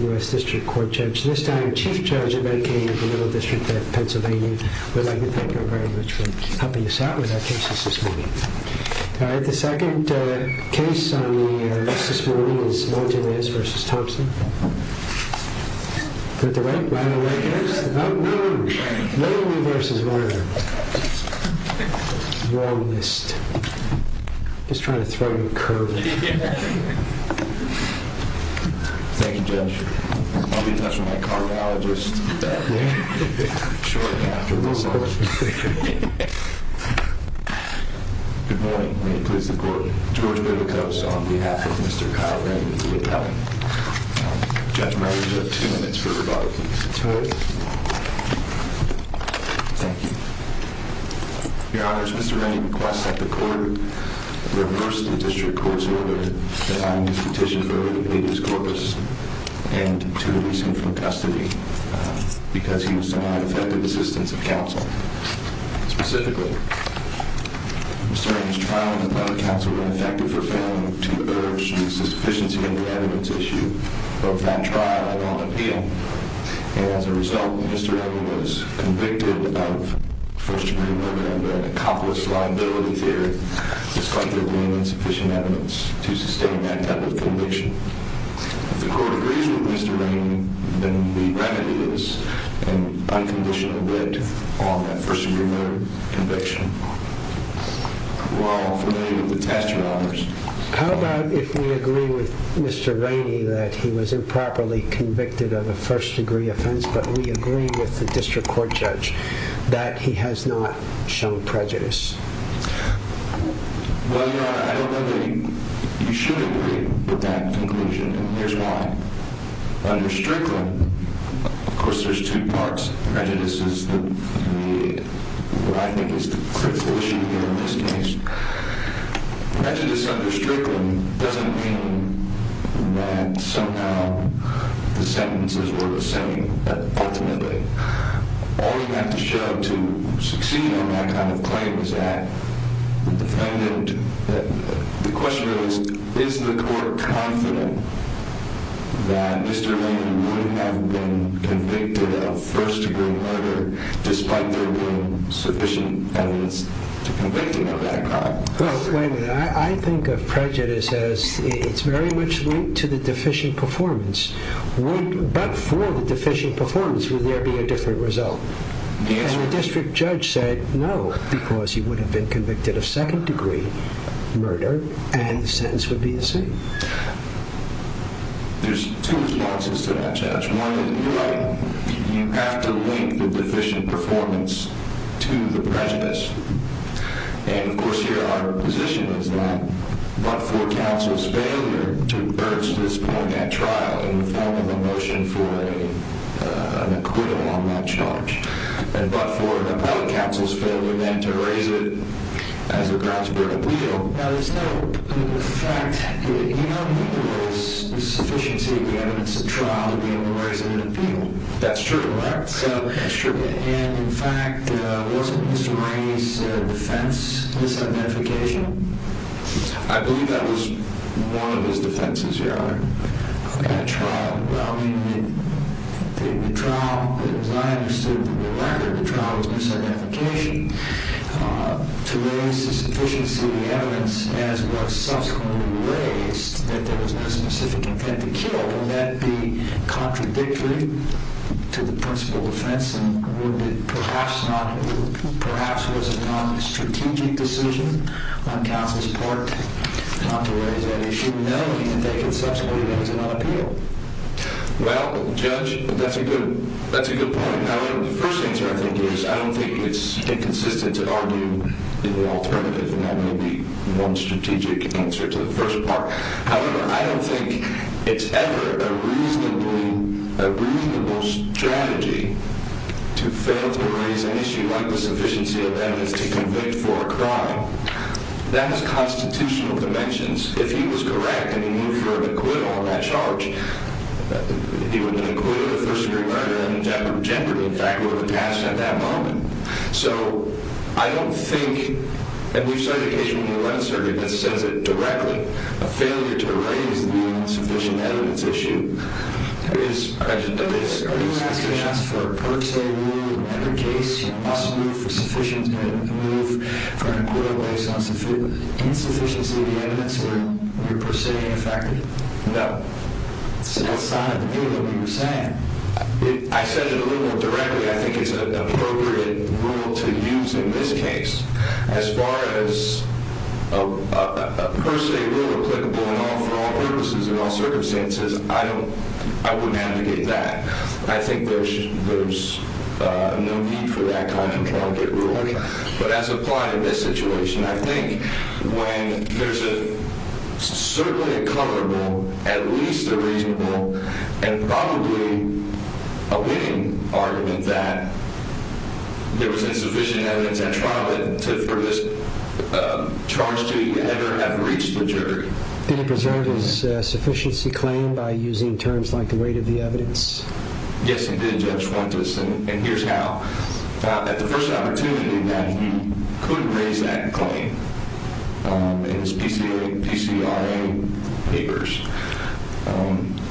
U.S. District Court Judge. This time, Chief Judge of Mankato for Little District of Pennsylvania would like to thank you very much for helping us out with our cases this morning. Alright, the second case on the list this morning is Martinez v. Thompson. Is that the right case? No, no. No reverses. Wrong list. Just trying to throw you a curve. Thank you, Judge. I'll be in touch with my cardiologist shortly after this. Good morning. May it please the court. George Bailikos on behalf of Mr. Kyle Rainey, the attorney. Judge, you have two minutes for rebuttal. Thank you. Your Honor, Mr. Rainey requests that the court reverse the District Court's order, and to release him from custody, because he was denied effective assistance of counsel. Specifically, Mr. Rainey's trial in the public counsel was ineffective for failing to urge the sufficiency of the evidence issue of that trial at on appeal. As a result, Mr. Rainey was convicted of first-degree murder and accomplished liability there. It's likely there isn't sufficient evidence to sustain that type of conviction. If the court agrees with Mr. Rainey, then the remedy is an unconditional wit on that first-degree murder conviction. Well, I'm familiar with the testimonies. How about if we agree with Mr. Rainey that he was improperly convicted of a first-degree offense, but we agree with the District Court Judge that he has not shown prejudice? Well, Your Honor, I don't know that you should agree with that conclusion, and here's why. Under Strickland, of course, there's two parts. Prejudice is what I think is the critical issue here in this case. Prejudice under Strickland doesn't mean that somehow the sentences were the same ultimately. All you have to show to succeed on that kind of claim is that the question is, is the court confident that Mr. Rainey would have been convicted of first-degree murder despite there being sufficient evidence to convict him of that crime? Well, wait a minute. I think of prejudice as it's very much linked to the deficient performance. But for the deficient performance, would there be a different result? The District Judge said no because he would have been convicted of second-degree murder and the sentence would be the same. There's two responses to that, Judge. One is, you're right, you have to link the deficient performance to the prejudice. And, of course, here our position is that but for counsel's failure to urge this point at trial in the form of a motion for an acquittal on that charge, and but for an appellate counsel's failure then to raise it as a grounds for an appeal, there's no effect. You don't think there was the sufficiency of the evidence at trial to be able to raise it in an appeal? That's true. Correct? That's true. And, in fact, wasn't Mr. Rainey's defense misidentification? I believe that was one of his defenses, Your Honor. Okay. At trial. Well, I mean, the trial, as I understood from the record, the trial was misidentification. To raise the sufficiency of the evidence, as was subsequently raised, that there was no specific intent to kill, wouldn't that be contradictory to the principal defense and wouldn't it perhaps was a non-strategic decision on counsel's part not to raise that issue? Well, Judge, that's a good point. However, the first answer I think is I don't think it's inconsistent to argue in the alternative, and that may be one strategic answer to the first part. However, I don't think it's ever a reasonable strategy to fail to raise an issue like the sufficiency of evidence to convict for a crime. That has constitutional dimensions. If he was correct and he moved for an acquittal on that charge, he would have been acquitted of first-degree murder and a jeopardy, in fact, would have passed at that moment. So I don't think, and we've cited a case in the New Orleans Circuit that says it directly, a failure to raise the insufficient evidence issue is present at this instance. So you're saying that's for a per se rule? In every case you must move for an acquittal based on the insufficiency of the evidence or you're per se ineffective? No. So that's not a rule that we were saying. I said it a little more directly. I think it's an appropriate rule to use in this case. As far as a per se rule applicable for all purposes and all circumstances, I wouldn't advocate that. I think there's no need for that kind of rule. But as applied in this situation, I think when there's certainly a coverable, at least a reasonable, and probably a winning argument that there was insufficient evidence at trial for this charge to ever have reached the jury. Did he preserve his sufficiency claim by using terms like the weight of the evidence? Yes, he did, Judge Fuentes, and here's how. At the first opportunity that he could raise that claim in his PCRA papers,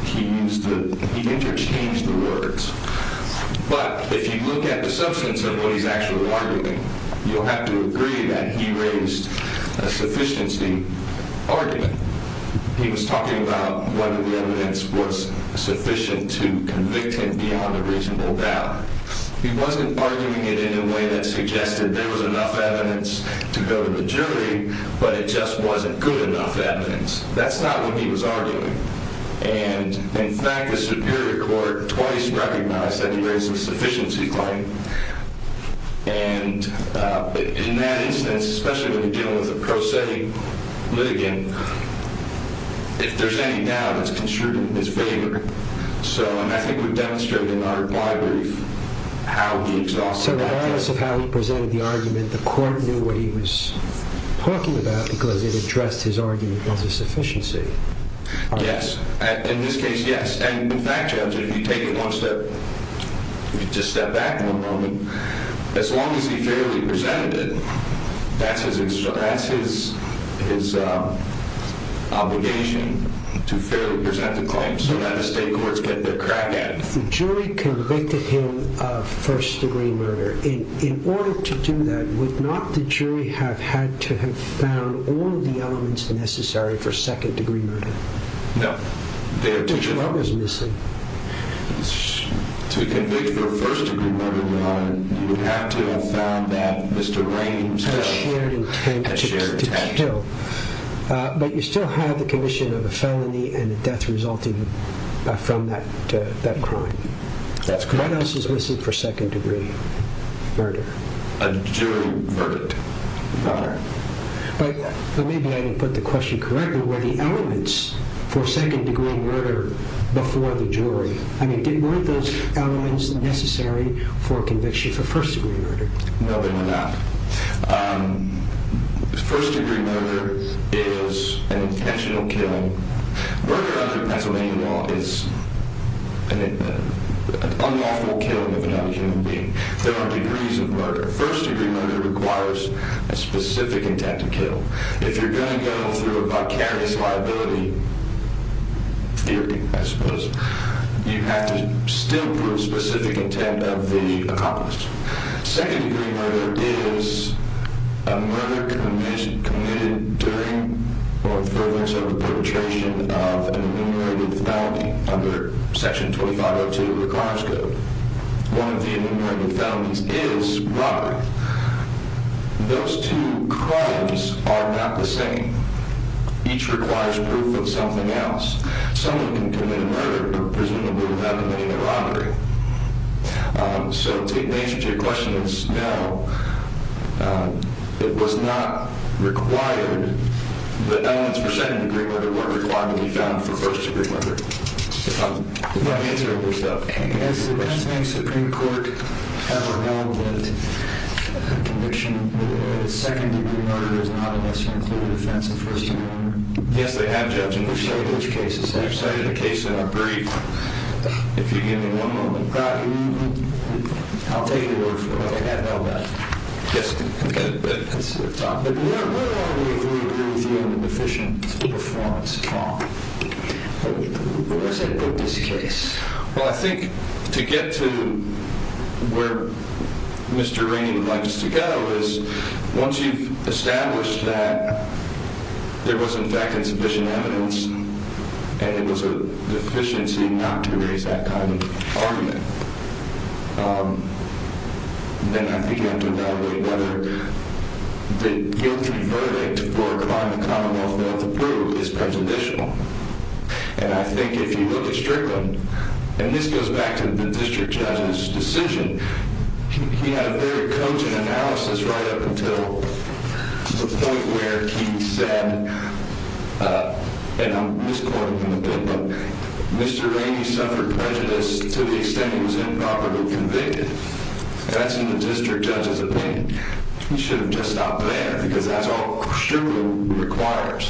he interchanged the words. But if you look at the substance of what he's actually arguing, you'll have to agree that he raised a sufficiency argument. He was talking about whether the evidence was sufficient to convict him beyond a reasonable doubt. He wasn't arguing it in a way that suggested there was enough evidence to go to the jury, but it just wasn't good enough evidence. That's not what he was arguing. In fact, the Superior Court twice recognized that he raised a sufficiency claim, and in that instance, especially when you're dealing with a prosaic litigant, if there's any doubt, it's construed in his favor. I think we've demonstrated in our reply brief how he exhausted that claim. Regardless of how he presented the argument, the court knew what he was talking about because it addressed his argument of sufficiency. Yes, in this case, yes. And in fact, Judge, if you take it one step, if you just step back for a moment, as long as he fairly presented it, that's his obligation to fairly present the claim so that the state courts get their crack at it. The jury convicted him of first-degree murder. In order to do that, would not the jury have had to have found all the elements necessary for second-degree murder? No. Which one was missing? To convict for first-degree murder, you would have to have found that Mr. Raines had a shared intent to kill. But you still have the condition of a felony and a death resulting from that crime. What else is missing for second-degree murder? A jury verdict. But maybe I didn't put the question correctly. Were the elements for second-degree murder before the jury? I mean, weren't those elements necessary for conviction for first-degree murder? No, they were not. First-degree murder is an intentional killing. Murder under Pennsylvania law is an unlawful killing of another human being. There are degrees of murder. First-degree murder requires a specific intent to kill. If you're going to go through a vicarious liability theory, I suppose, you have to still prove specific intent of the accomplice. Second-degree murder is a murder committed during or with the purpose of a perpetration of an enumerated felony under Section 2502 of the Crimes Code. One of the enumerated felonies is robbery. Those two crimes are not the same. Each requires proof of something else. Someone can commit a murder, but presumably without committing a robbery. So to answer your question, it's no. It was not required. The elements for second-degree murder weren't required when you found them for first-degree murder. If I'm answering this stuff. Yes, the Pennsylvania Supreme Court have a wrong with conviction. Second-degree murder is not unless you include offense of first-degree murder. Yes, they have, Judge, and we've studied those cases. I've studied the case in a brief. If you give me one moment. I'll take the word for it. I have no doubt. Yes. But where are we if we agree with you on the deficient performance, Tom? Where does that put this case? Well, I think to get to where Mr. Rain would like us to go is once you've established that there was, in fact, insufficient evidence and it was a deficiency not to raise that kind of argument, then I think you have to evaluate whether the guilty verdict for a crime the Commonwealth failed to prove is prejudicial. And I think if you look at Strickland, and this goes back to the district judge's decision, he had a very cogent analysis right up until the point where he said, and I'm misquoting him a bit, but Mr. Rain, he suffered prejudice to the extent he was improperly convicted. That's in the district judge's opinion. He should have just stopped there because that's all Strickland requires.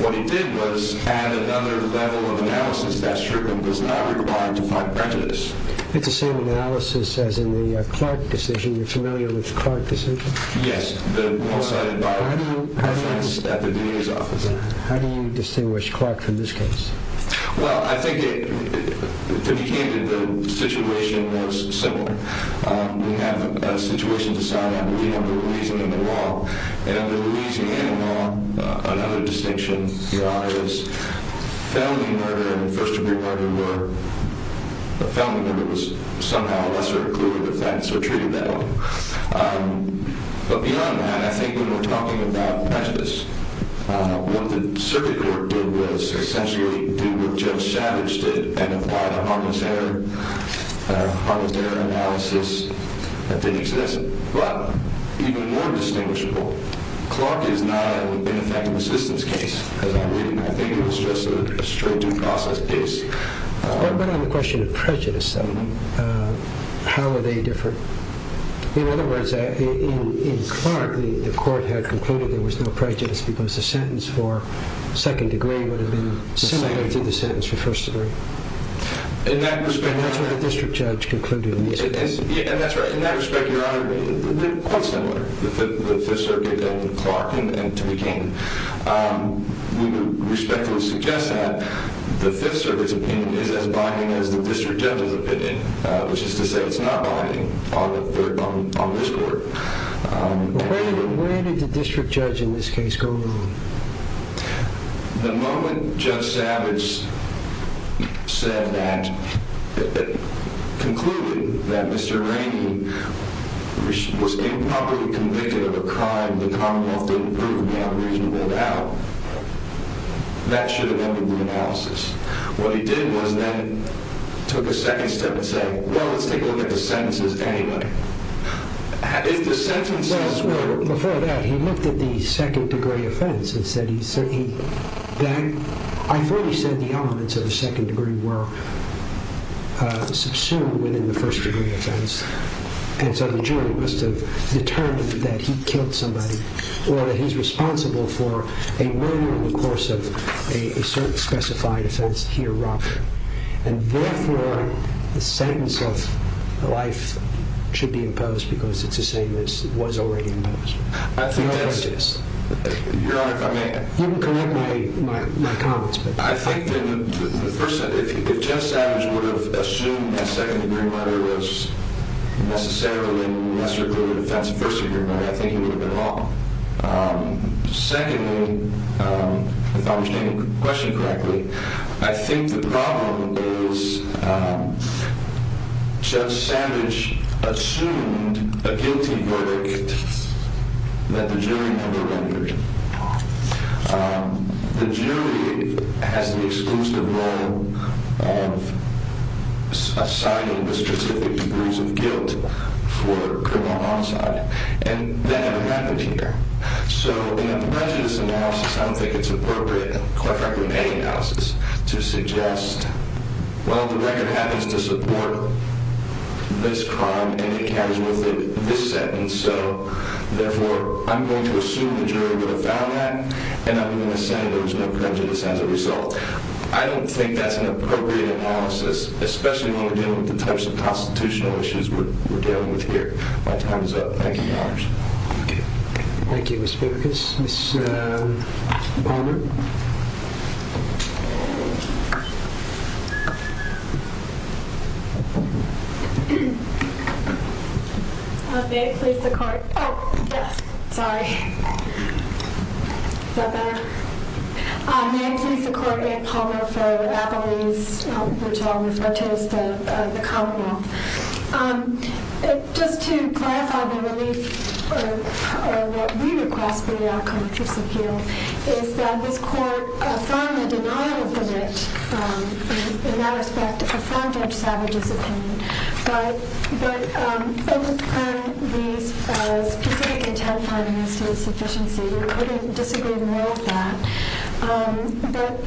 What he did was add another level of analysis that Strickland was not required to find prejudice. It's the same analysis as in the Clark decision. You're familiar with the Clark decision? Yes. How do you distinguish Clark from this case? Well, I think to begin with, the situation was similar. We have a situation to sign up. We have a reason and a law. And under reason and a law, another distinction is family murder. And first of all, family murder was somehow a lesser accrued offense, so treated that way. But beyond that, I think when we're talking about prejudice, what the circuit court did was essentially do what Judge Savage did and apply the harmless error analysis that they suggested. But even more distinguishable, Clark is not a benefactor assistance case. As I'm reading, I think it was just a straight due process case. But on the question of prejudice, how are they different? In other words, in Clark, the court had concluded there was no prejudice because the sentence for second degree would have been similar to the sentence for first degree. And that's what the district judge concluded in this case. And that's right. In that respect, Your Honor, they're quite similar, the Fifth Circuit and Clark, to begin. We would respectfully suggest that the Fifth Circuit's opinion is as binding as the district judge's opinion, which is to say it's not binding on this court. Where did the district judge in this case go wrong? The moment Judge Savage concluded that Mr. Rainey was improperly convicted of a crime the Commonwealth didn't prove to be unreasonable about, that should have ended the analysis. What he did was then took a second step and said, well, let's take a look at the sentences anyway. Before that, he looked at the second degree offense. I thought he said the elements of the second degree were subsumed within the first degree offense. And so the jury must have determined that he killed somebody or that he's responsible for a murder in the course of a certain specified offense he erupted. And therefore, the sentence of life should be imposed because it's the same as it was already imposed. Your Honor, if I may. You can correct my comments. I think that, first, if Judge Savage would have assumed that second degree murder was necessarily a lesser degree offense than first degree murder, I think he would have been wrong. Secondly, if I'm understanding the question correctly, I think the problem is Judge Savage assumed a guilty verdict that the jury never rendered. The jury has the exclusive role of assigning the specific degrees of guilt for criminal homicide. And that never happened here. So in a prejudice analysis, I don't think it's appropriate, quite frankly, in any analysis to suggest, well, the record happens to support this crime and it carries with it this sentence. So therefore, I'm going to assume the jury would have found that and I'm going to say there was no prejudice as a result. I don't think that's an appropriate analysis, especially when we're dealing with the types of constitutional issues we're dealing with here. My time is up. Thank you, Your Honor. Thank you. Thank you, Ms. Bibikus. Ms. Palmer? May it please the Court. Oh, yes. Sorry. Is that better? May it please the Court. I'm Ann Palmer for Applebee's, which I'll refer to as the Commonwealth. Just to clarify the relief, or what we request for the outcome of this appeal, is that this Court affirm the denial of the wit, in that respect, affirm Judge Savage's opinion. But over time, these specific intent findings to the sufficiency, we couldn't disagree more with that.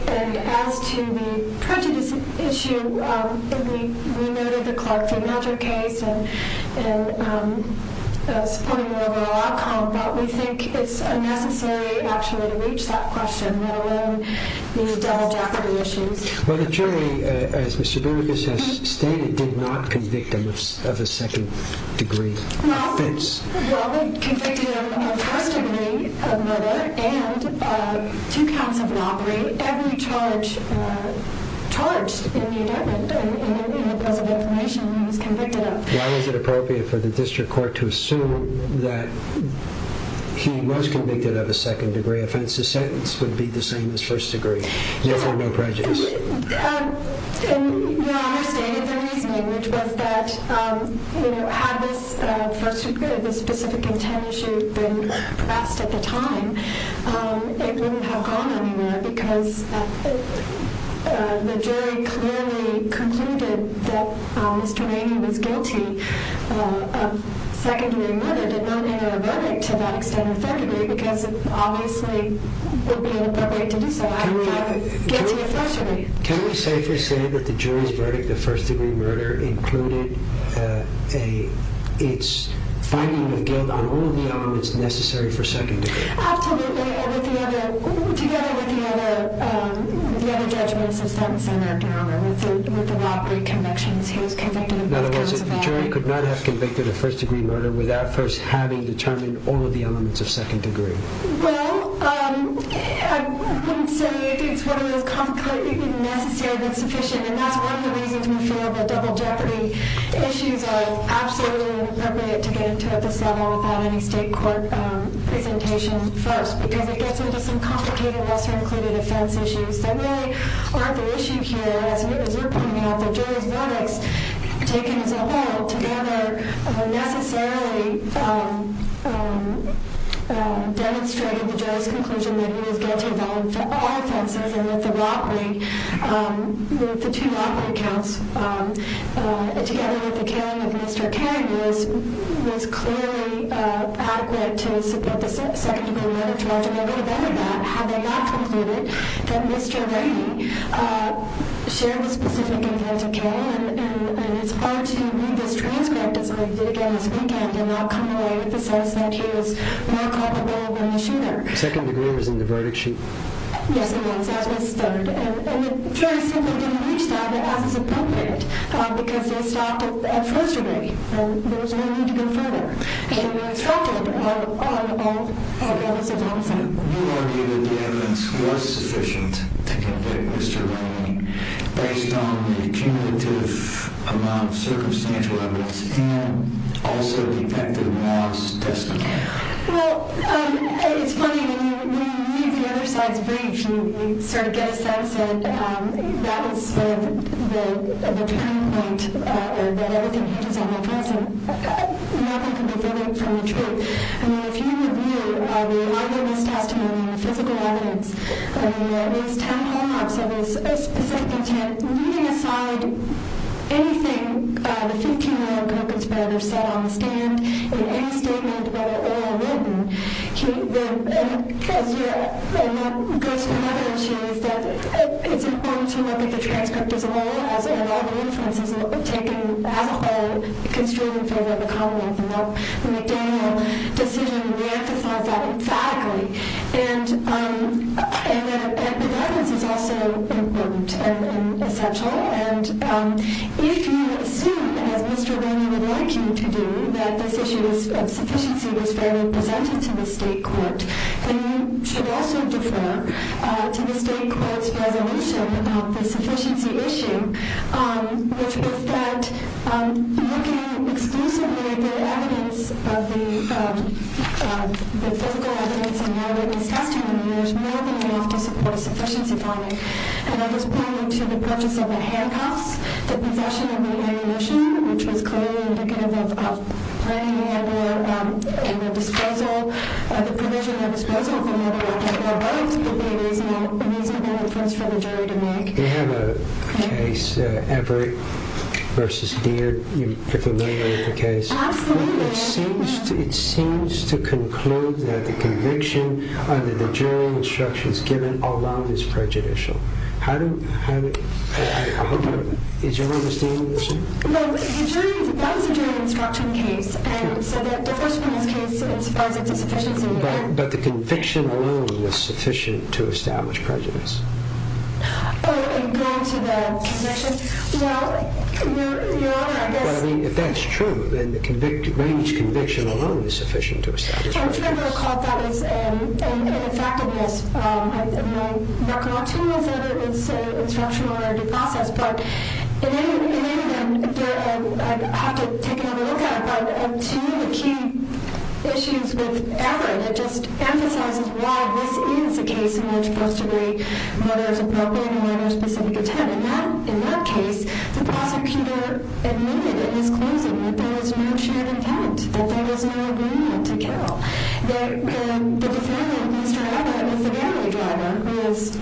And as to the prejudice issue, we noted the Clark v. Magic case and supported the overall outcome, but we think it's unnecessary, actually, to reach that question, let alone the double-decker issues. Well, the jury, as Mr. Bibikus has stated, did not convict him of a second-degree offense. Well, we convicted him of first-degree murder and two counts of robbery, every charge charged in the indictment, in the case of information he was convicted of. Why was it appropriate for the District Court to assume that he was convicted of a second-degree offense? The sentence would be the same as first-degree, if there were no prejudice. Your Honor stated the reasoning, which was that had this specific intent issue been pressed at the time, it wouldn't have gone anywhere, because the jury clearly concluded that Mr. Maney was guilty of second-degree murder, did not make it a verdict to that extent, effectively, because it obviously would be inappropriate to do so. Can we safely say that the jury's verdict of first-degree murder included its finding of guilt on all of the elements necessary for second-degree? Absolutely, together with the other judgments of sentence, and with the robbery convictions, he was convicted of both counts of robbery. In other words, the jury could not have convicted of first-degree murder without first having determined all of the elements of second-degree. Well, I wouldn't say it's one of those complicated, necessary, but sufficient, and that's one of the reasons we feel that double jeopardy issues are absolutely inappropriate to get into at this level without any state court presentation first, because it gets into some complicated lesser-included offense issues that really aren't the issue here, but as you're pointing out, the jury's verdicts, taken as a whole, together, necessarily demonstrated the jury's conclusion that he was guilty of all offenses, and that the two robbery counts, together with the killing of Mr. Cain, was clearly adequate to support the second-degree murder charge. And a little bit of that, had they not concluded that Mr. Rainey shared the specific events of Cain, and it's hard to read this transcript as I did again this weekend, and not come away with the sense that he was more culpable than the shooter. Second-degree was in the verdict sheet? Yes, it was, as was third, and it very simply didn't reach that as is appropriate, because they stopped at first-degree, and there was no need to go further. They were instructed on all levels of homicide. You argue that the evidence was sufficient to convict Mr. Rainey, based on the cumulative amount of circumstantial evidence, and also detected in Moss' testimony. Well, it's funny. When you read the other side's brief, you sort of get a sense that that was sort of the turning point, that everything hinges on the present, and nothing can be furthered from the truth. I mean, if you review the other witness testimony and the physical evidence, I mean, there are at least 10 hallmarks of a specific intent, leaving aside anything the 15-year-old convict's brother said on the stand, in any statement whether oral or written, and the ghost of evidence is that it's important to look at the transcript as a whole, as are the other inferences that were taken as a whole, construed in favor of the convict, and the McDaniel decision re-emphasized that emphatically. And the guidance is also important and essential, and if you assume, as Mr. Rainey would like you to do, that this issue of sufficiency was fairly presented to the state court, then you should also defer to the state court's resolution about the sufficiency issue, which is that looking exclusively at the evidence of the physical evidence and your witness testimony, there's more than enough to support a sufficiency finding. And I was pointing to the purchase of a handcuffs, the possession of a ammunition, which was clearly indicative of Rainey having a disposal, and the provision of a disposal for having a handcuff or gloves would be a reasonable inference for the jury to make. Do you have a case, Everett v. Deere? Are you familiar with the case? Absolutely. It seems to conclude that the conviction under the jury instructions given alone is prejudicial. Is your understanding this? Well, that was a jury instruction case, and so the first one is case as far as it's a sufficiency. But the conviction alone was sufficient to establish prejudice. Oh, in going to the conviction? Well, Your Honor, I guess- Well, I mean, if that's true, then Rainey's conviction alone is sufficient to establish prejudice. I'm trying to recall if that was an effectiveness. My recollection was that it was an instructional or a due process, but in any event, I'd have to take another look at it. But two of the key issues with Everett, it just emphasizes why this is a case in which first degree murder is appropriate and where there's specific intent. In that case, the prosecutor admitted at his closing that there was no shared intent, that there was no agreement to kill. The defendant, Mr. Everett, was the family driver, was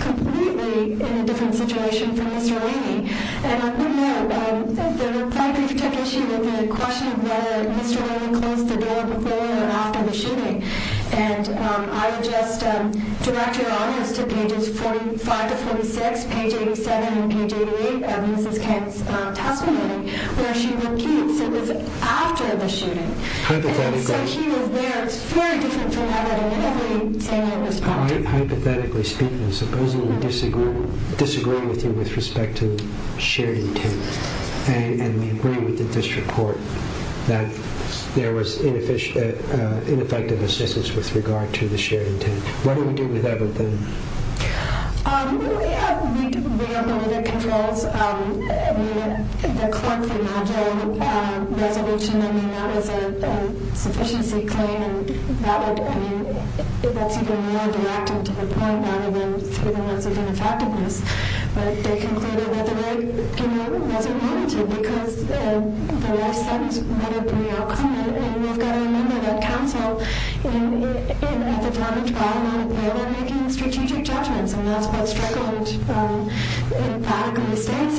completely in a different situation from Mr. Rainey. And I didn't know. The reply brief took issue with the question of whether Mr. Rainey closed the door before or after the shooting. And I just direct your audience to pages 45 to 46, page 87 and page 88 of Mrs. Kent's testimony, where she repeats it was after the shooting. Hypothetically. And so he was there. It's very different from Everett. Hypothetically speaking, supposing we disagree with you with respect to shared intent and we agree with the district court that there was ineffective assistance with regard to the shared intent. What do we do with Everett then? We ran the murder controls. I mean, the clerk remanded a resolution. I mean, that was a sufficiency claim. I mean, that's even more direct and to the point, rather than through the lens of ineffectiveness. But they concluded that the rape, you know, wasn't warranted because the rest of the murder pre-occurred. And we've got to remember that counsel and the defendant were making strategic judgments. And that's what struggled in the back of the states,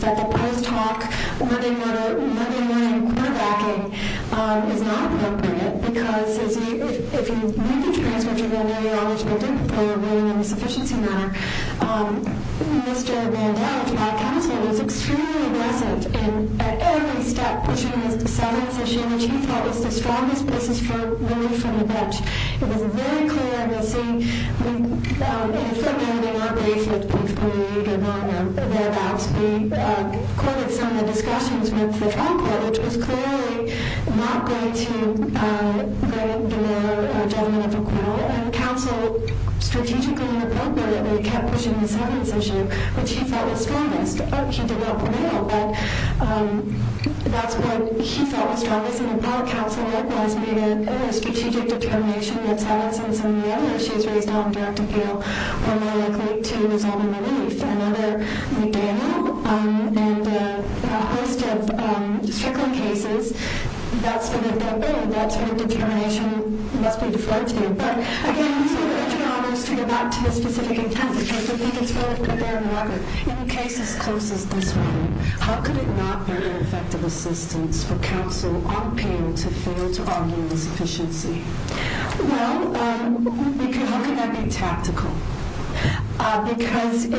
that the post hoc murdering, murdering, murdering, and quarterbacking is not appropriate because if you need to transfer to the eliminated eligible victim for a ruling in a sufficiency manner, Mr. Vandell, to that counsel, was extremely aggressive in every step, which in his seventh session, which he thought was the strongest basis for relief from the bench. It was very clear in the scene, in the footnote in our case, that perhaps we courted some of the discussions with the trial court, which was clearly not going to give them a judgment of acquittal. And counsel strategically and appropriately kept pushing the seventh session, which he thought was strongest. He did not prevail, but that's what he thought was strongest. And in the back, counsel recognized the strategic determination that's had us in some of the cases. That's determination must be deferred to you. In cases as close as this one, how could it not be an effective assistance for counsel on appeal to fail to argue this sufficiency? Well, how could that be tactical? Because we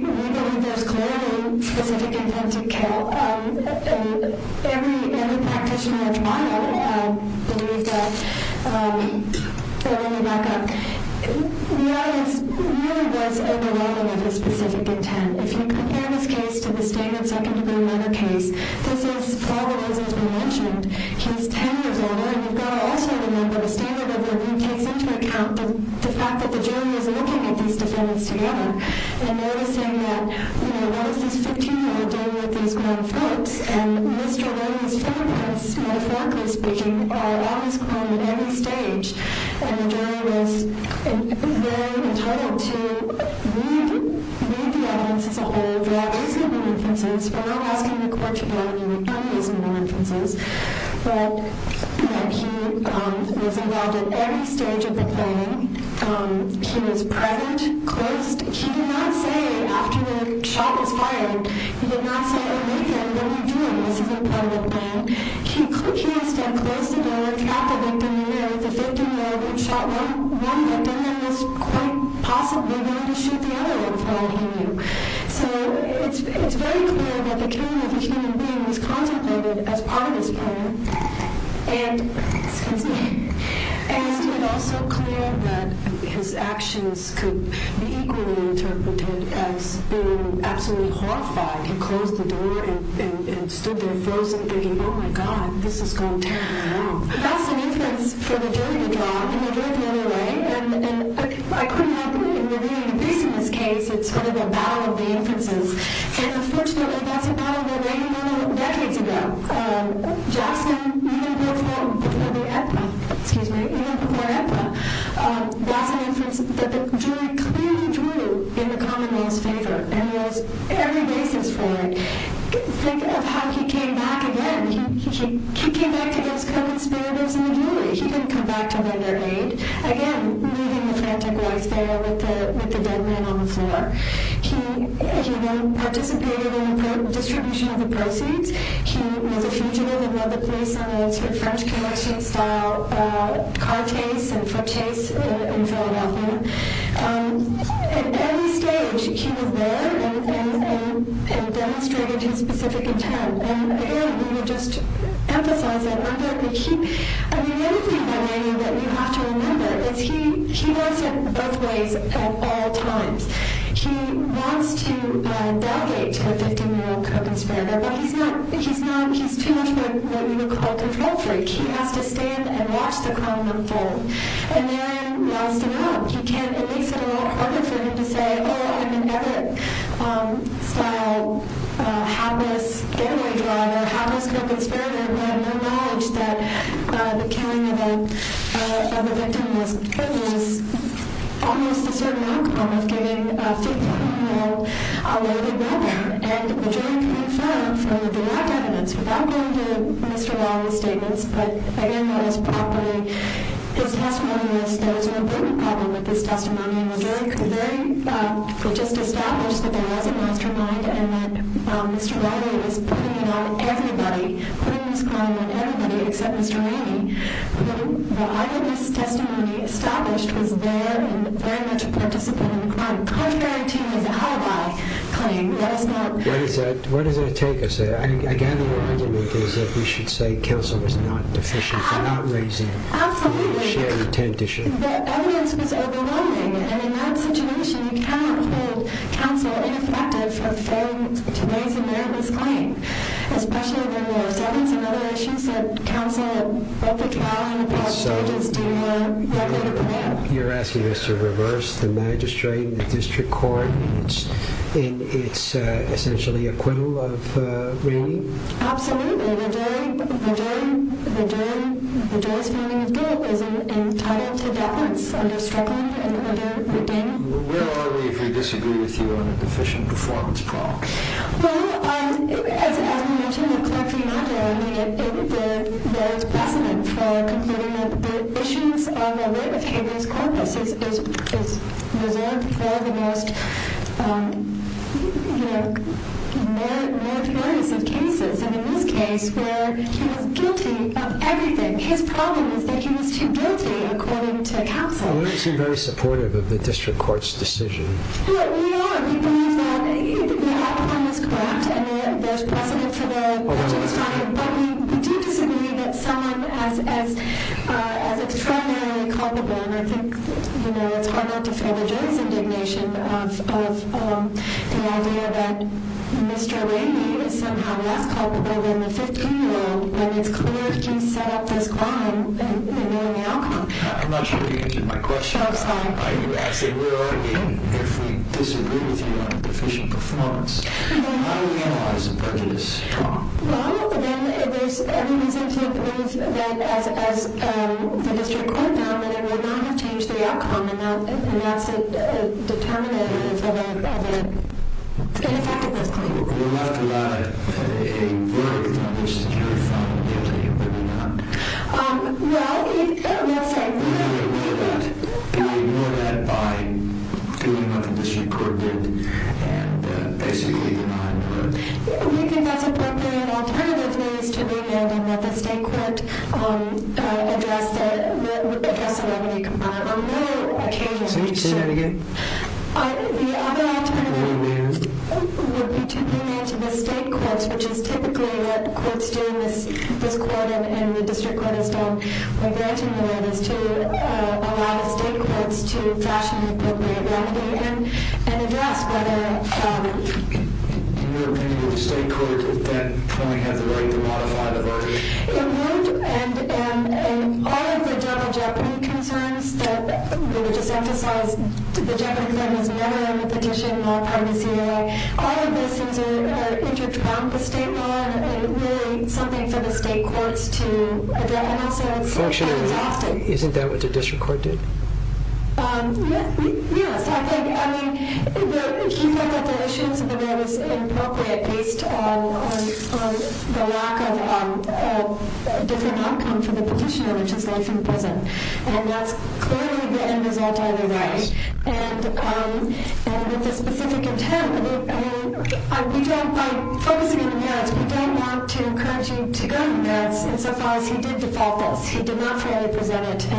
believe there's clearly specific intent to kill. Every practitioner at trial believed that. Let me back up. We really was overwhelmed with his specific intent. If you compare this case to the standard second degree murder case, this is, as we mentioned, he's 10 years older, and you've got to also remember the standard of review takes into account the fact that the jury is looking at these defendants together and noticing that, you know, what is this 15 year old doing with these grown folks? And Mr. Williams' fingerprints metaphorically speaking, are always grown at any stage. And the jury was very entitled to read the evidence as a whole. There are reasonable inferences. We're not asking the court to do any reasonable inferences. But he was involved at every stage of the playing. He was present, close. He did not say after the shot was fired, he did not say, oh, Lutheran, what are you doing? This is a part of the playing. He stood close to the victim, looked at the victim in the mirror. The victim in the mirror who shot one victim and was quite possibly willing to shoot the other in front of him. So it's very clear that the killing of a human being was contemplated as part of his playing. And it's also clear that his actions could be equally interpreted as being absolutely horrified. He closed the door and stood there frozen thinking, oh, my God, this is going terribly wrong. That's an inference for the jury to draw. And they drew it the other way. And I couldn't help but intervene in this case. It's sort of a battle of the inferences. And, unfortunately, that's a battle that may be won decades ago. Jackson, even before the epi, excuse me, even before epi, that's an inference that the jury clearly drew in the common man's favor. And he has every basis for it. Think of how he came back again. He came back to his co-conspirators in the jury. He didn't come back to render aid. Again, leaving the frantic White Sparrow with the dead man on the floor. He then participated in the distribution of the proceeds. He was a fugitive and led the police on a sort of French commission-style car chase and foot chase in Philadelphia. At every stage, he was there and demonstrated his specific intent. And, again, I want to just emphasize that. Another thing that you have to remember is he was hit both ways at all times. He wants to delegate to a 15-year-old co-conspirator, but he's too much of what you would call a control freak. He has to stand and watch the crime unfold. And then he wants to run. It makes it a lot harder for him to say, oh, I'm an errant-style, hapless getaway driver, hapless co-conspirator, who had no knowledge that the killing of a victim was almost a certain outcome of giving a 15-year-old a loaded weapon. And the jury could infer from the lack of evidence, without going to Mr. Riley's statements, but, again, that was probably his testimony, that there was an important problem with this testimony. The jury could very well just establish that there was a mastermind and that Mr. Riley was putting it on everybody, putting this crime on everybody except Mr. Rainey. The argument this testimony established was there and very much a participant in the crime. Contrary to his alibi claim, there is no... What does that take us there? I gather your argument is that we should say counsel was not deficient, not raising the shared intent issue. Absolutely. The evidence was overwhelming. And in that situation, you cannot hold counsel ineffective for failing to raise a meritorious claim, especially when there were several other issues that counsel and both the trial and the trial judges did not work in the plan. You're asking us to reverse the magistrate and the district court in its essentially acquittal of Rainey? Absolutely. The jury's finding of guilt is entitled to balance under struggling and under redeeming. Where are we if we disagree with you on a deficient performance problem? Well, as we mentioned with Clerk Fernando, there is precedent for concluding that the issues are related to his corpus. It's reserved for the most meritorious of cases. And in this case, where he was guilty of everything, his problem is that he was too guilty, according to counsel. We don't seem very supportive of the district court's decision. We believe that the outcome is correct and there's precedent for the magistrate's finding. But we do disagree that someone as extraordinarily culpable, and I think it's hard not to feel the jury's indignation of the idea that Mr. Rainey is somehow less culpable than the 15-year-old when it's clear that he set up this crime and knew the outcome. I'm not sure you answered my question. I'm sorry. I say where are we if we disagree with you on a deficient performance? How do we analyze the prejudice? Well, then there's every reason to believe that as the district court found that it would not have changed the outcome and that's a determinant of an ineffectiveness claim. Well, we left a lot at a very undersecured foundation, didn't we? Well, let's say we ignore that by doing what the district court did and basically denying the verdict. We think that's appropriate. An alternative is to demand that the state court address the remedy component on one occasion. Say that again. The other alternative would be to demand to the state courts, which is typically what courts do in this court and the district court has done for granted in the world, is to allow the state courts to fashion an appropriate remedy and address whether— In your opinion, would the state court at that point have the right to modify the verdict? It would, and all of the double jeopardy concerns that we just emphasized, the jeopardy claim is never in the petition nor privacy law, all of those things are intertwined with state law and really something for the state courts to address and also the state courts often. Isn't that what the district court did? Yes, I think. I mean, he looked at the issue and said that it was inappropriate based on the lack of a different outcome for the petitioner, which is laid from the present, and that's clearly the end result of the right. And with a specific intent, by focusing on the merits, we don't want to encourage you to go to the merits insofar as he did default this. He did not fairly present it.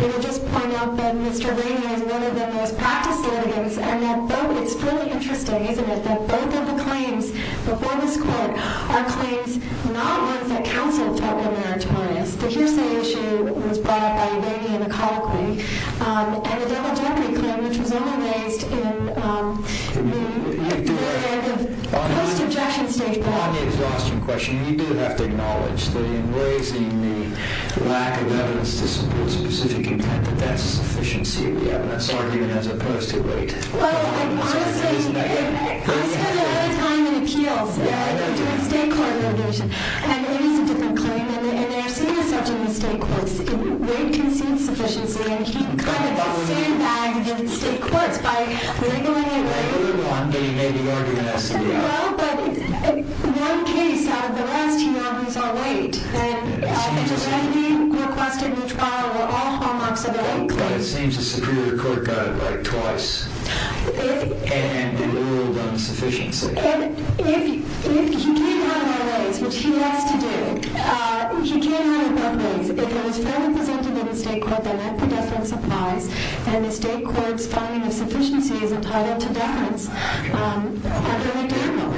We would just point out that Mr. Rainey is one of the most practiced litigants and that it's really interesting, isn't it, that both of the claims before this court are claims not ones that counsel talk of meritorious. The hearsay issue was brought up by Rainey in the colloquy and the double jeopardy claim, which was only raised in the post-objection statement. On the exhaustion question, you do have to acknowledge that in raising the lack of evidence to support a specific intent, that that's a sufficiency of the evidence argument as opposed to weight. Well, honestly, I spent a lot of time in appeals doing state court litigation. And Rainey's a different claim, and they're seen as such in the state courts. Weight concedes sufficiency, and he kind of stayed back in the state courts by wriggling and wriggling. Well, but one case out of the rest, he argues on weight. And to Rainey, requested in the trial, were all hallmarks of a weight claim. But it seems a superior court got it right twice. And the rule on sufficiency. If he can't have it otherwise, which he has to do, he can't have it otherwise. If it was fairly presented in the state court, then all predefinite supplies, and the state court's finding of sufficiency is entitled to balance, I'll give it to him.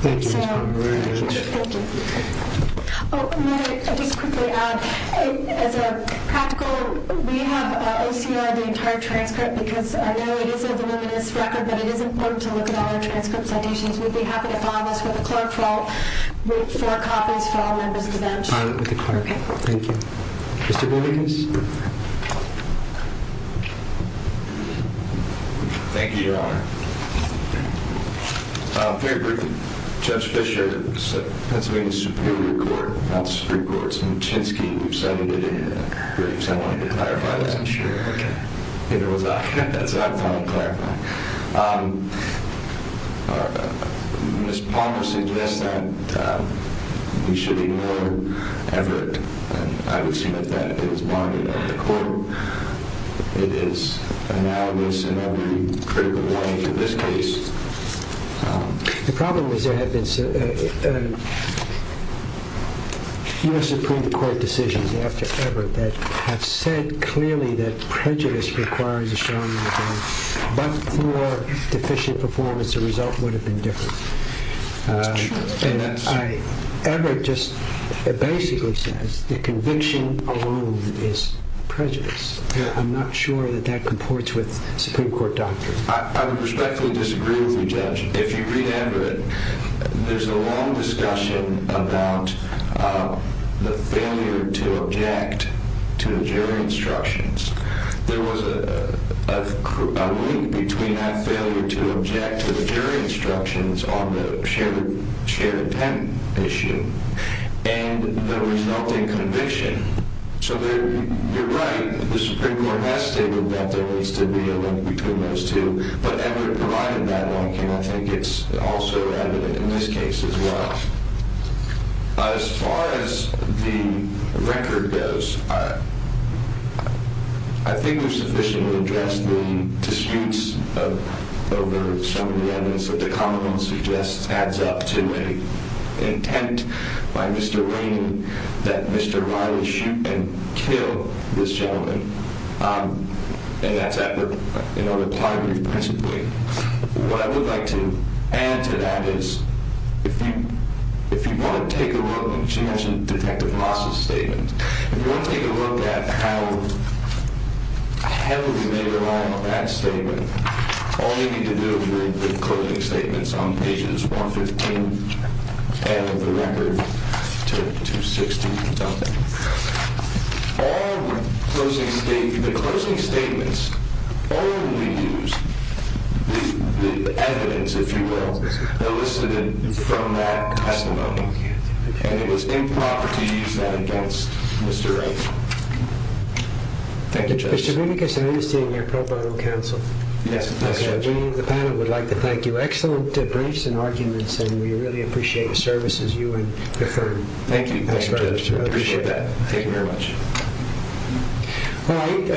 Thank you. Thank you. Oh, may I just quickly add, as a practical, we have OCR'd the entire transcript because I know it is a voluminous record, but it is important to look at all our transcript citations. We'd be happy to follow this with a clerk with four copies for all members of the bench. I'll do it with the clerk. Thank you. Mr. Borges. Thank you, Your Honor. Very briefly, Judge Fischer, Pennsylvania Superior Court, not Superior Court, it's Muchinski, we've cited it in the briefs. I wanted to clarify that. Neither was I. That's what I'm trying to clarify. Mr. Palmer suggests that we should ignore Everett, and I would assume that that is bonded at the court. It is analogous in every critical way to this case. The problem is there have been U.S. Supreme Court decisions after Everett that have said clearly that prejudice requires a strong... but for deficient performance, the result would have been different. That's true. Everett just basically says that conviction alone is prejudice. I'm not sure that that comports with Supreme Court doctrine. I would respectfully disagree with you, Judge. If you read Everett, there's a long discussion about the failure to object to the jury instructions. There was a link between that failure to object to the jury instructions on the shared intent issue and the resulting conviction. So you're right, the Supreme Court has stated that there needs to be a link between those two, but Everett provided that link, and I think it's also evident in this case as well. As far as the record goes, I think we've sufficiently addressed the disputes over some of the evidence that the commonwealth suggests adds up to an intent by Mr. Lane that Mr. Ryan shoot and kill this gentleman, and that's at the primary principle. What I would like to add to that is if you want to take a look... She mentioned Detective Moss' statement. If you want to take a look at how heavily they relied on that statement, all you need to do is read the closing statements on pages 115 and the record to 260 and something. All the closing statements only use the evidence, if you will, elicited from that testimony, and it was improper to use that against Mr. Ryan. Thank you, Judge. Mr. Vinicus, I understand you're pro bono counsel. Yes, Mr. Judge. The panel would like to thank you. Excellent briefs and arguments, and we really appreciate the services you and your firm have provided to others. Thank you, Judge. I appreciate that. Thank you very much. All right.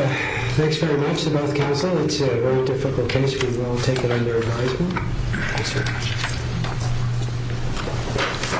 Thanks very much to both counsel. It's a very difficult case. We will take it under advisement. Thanks very much.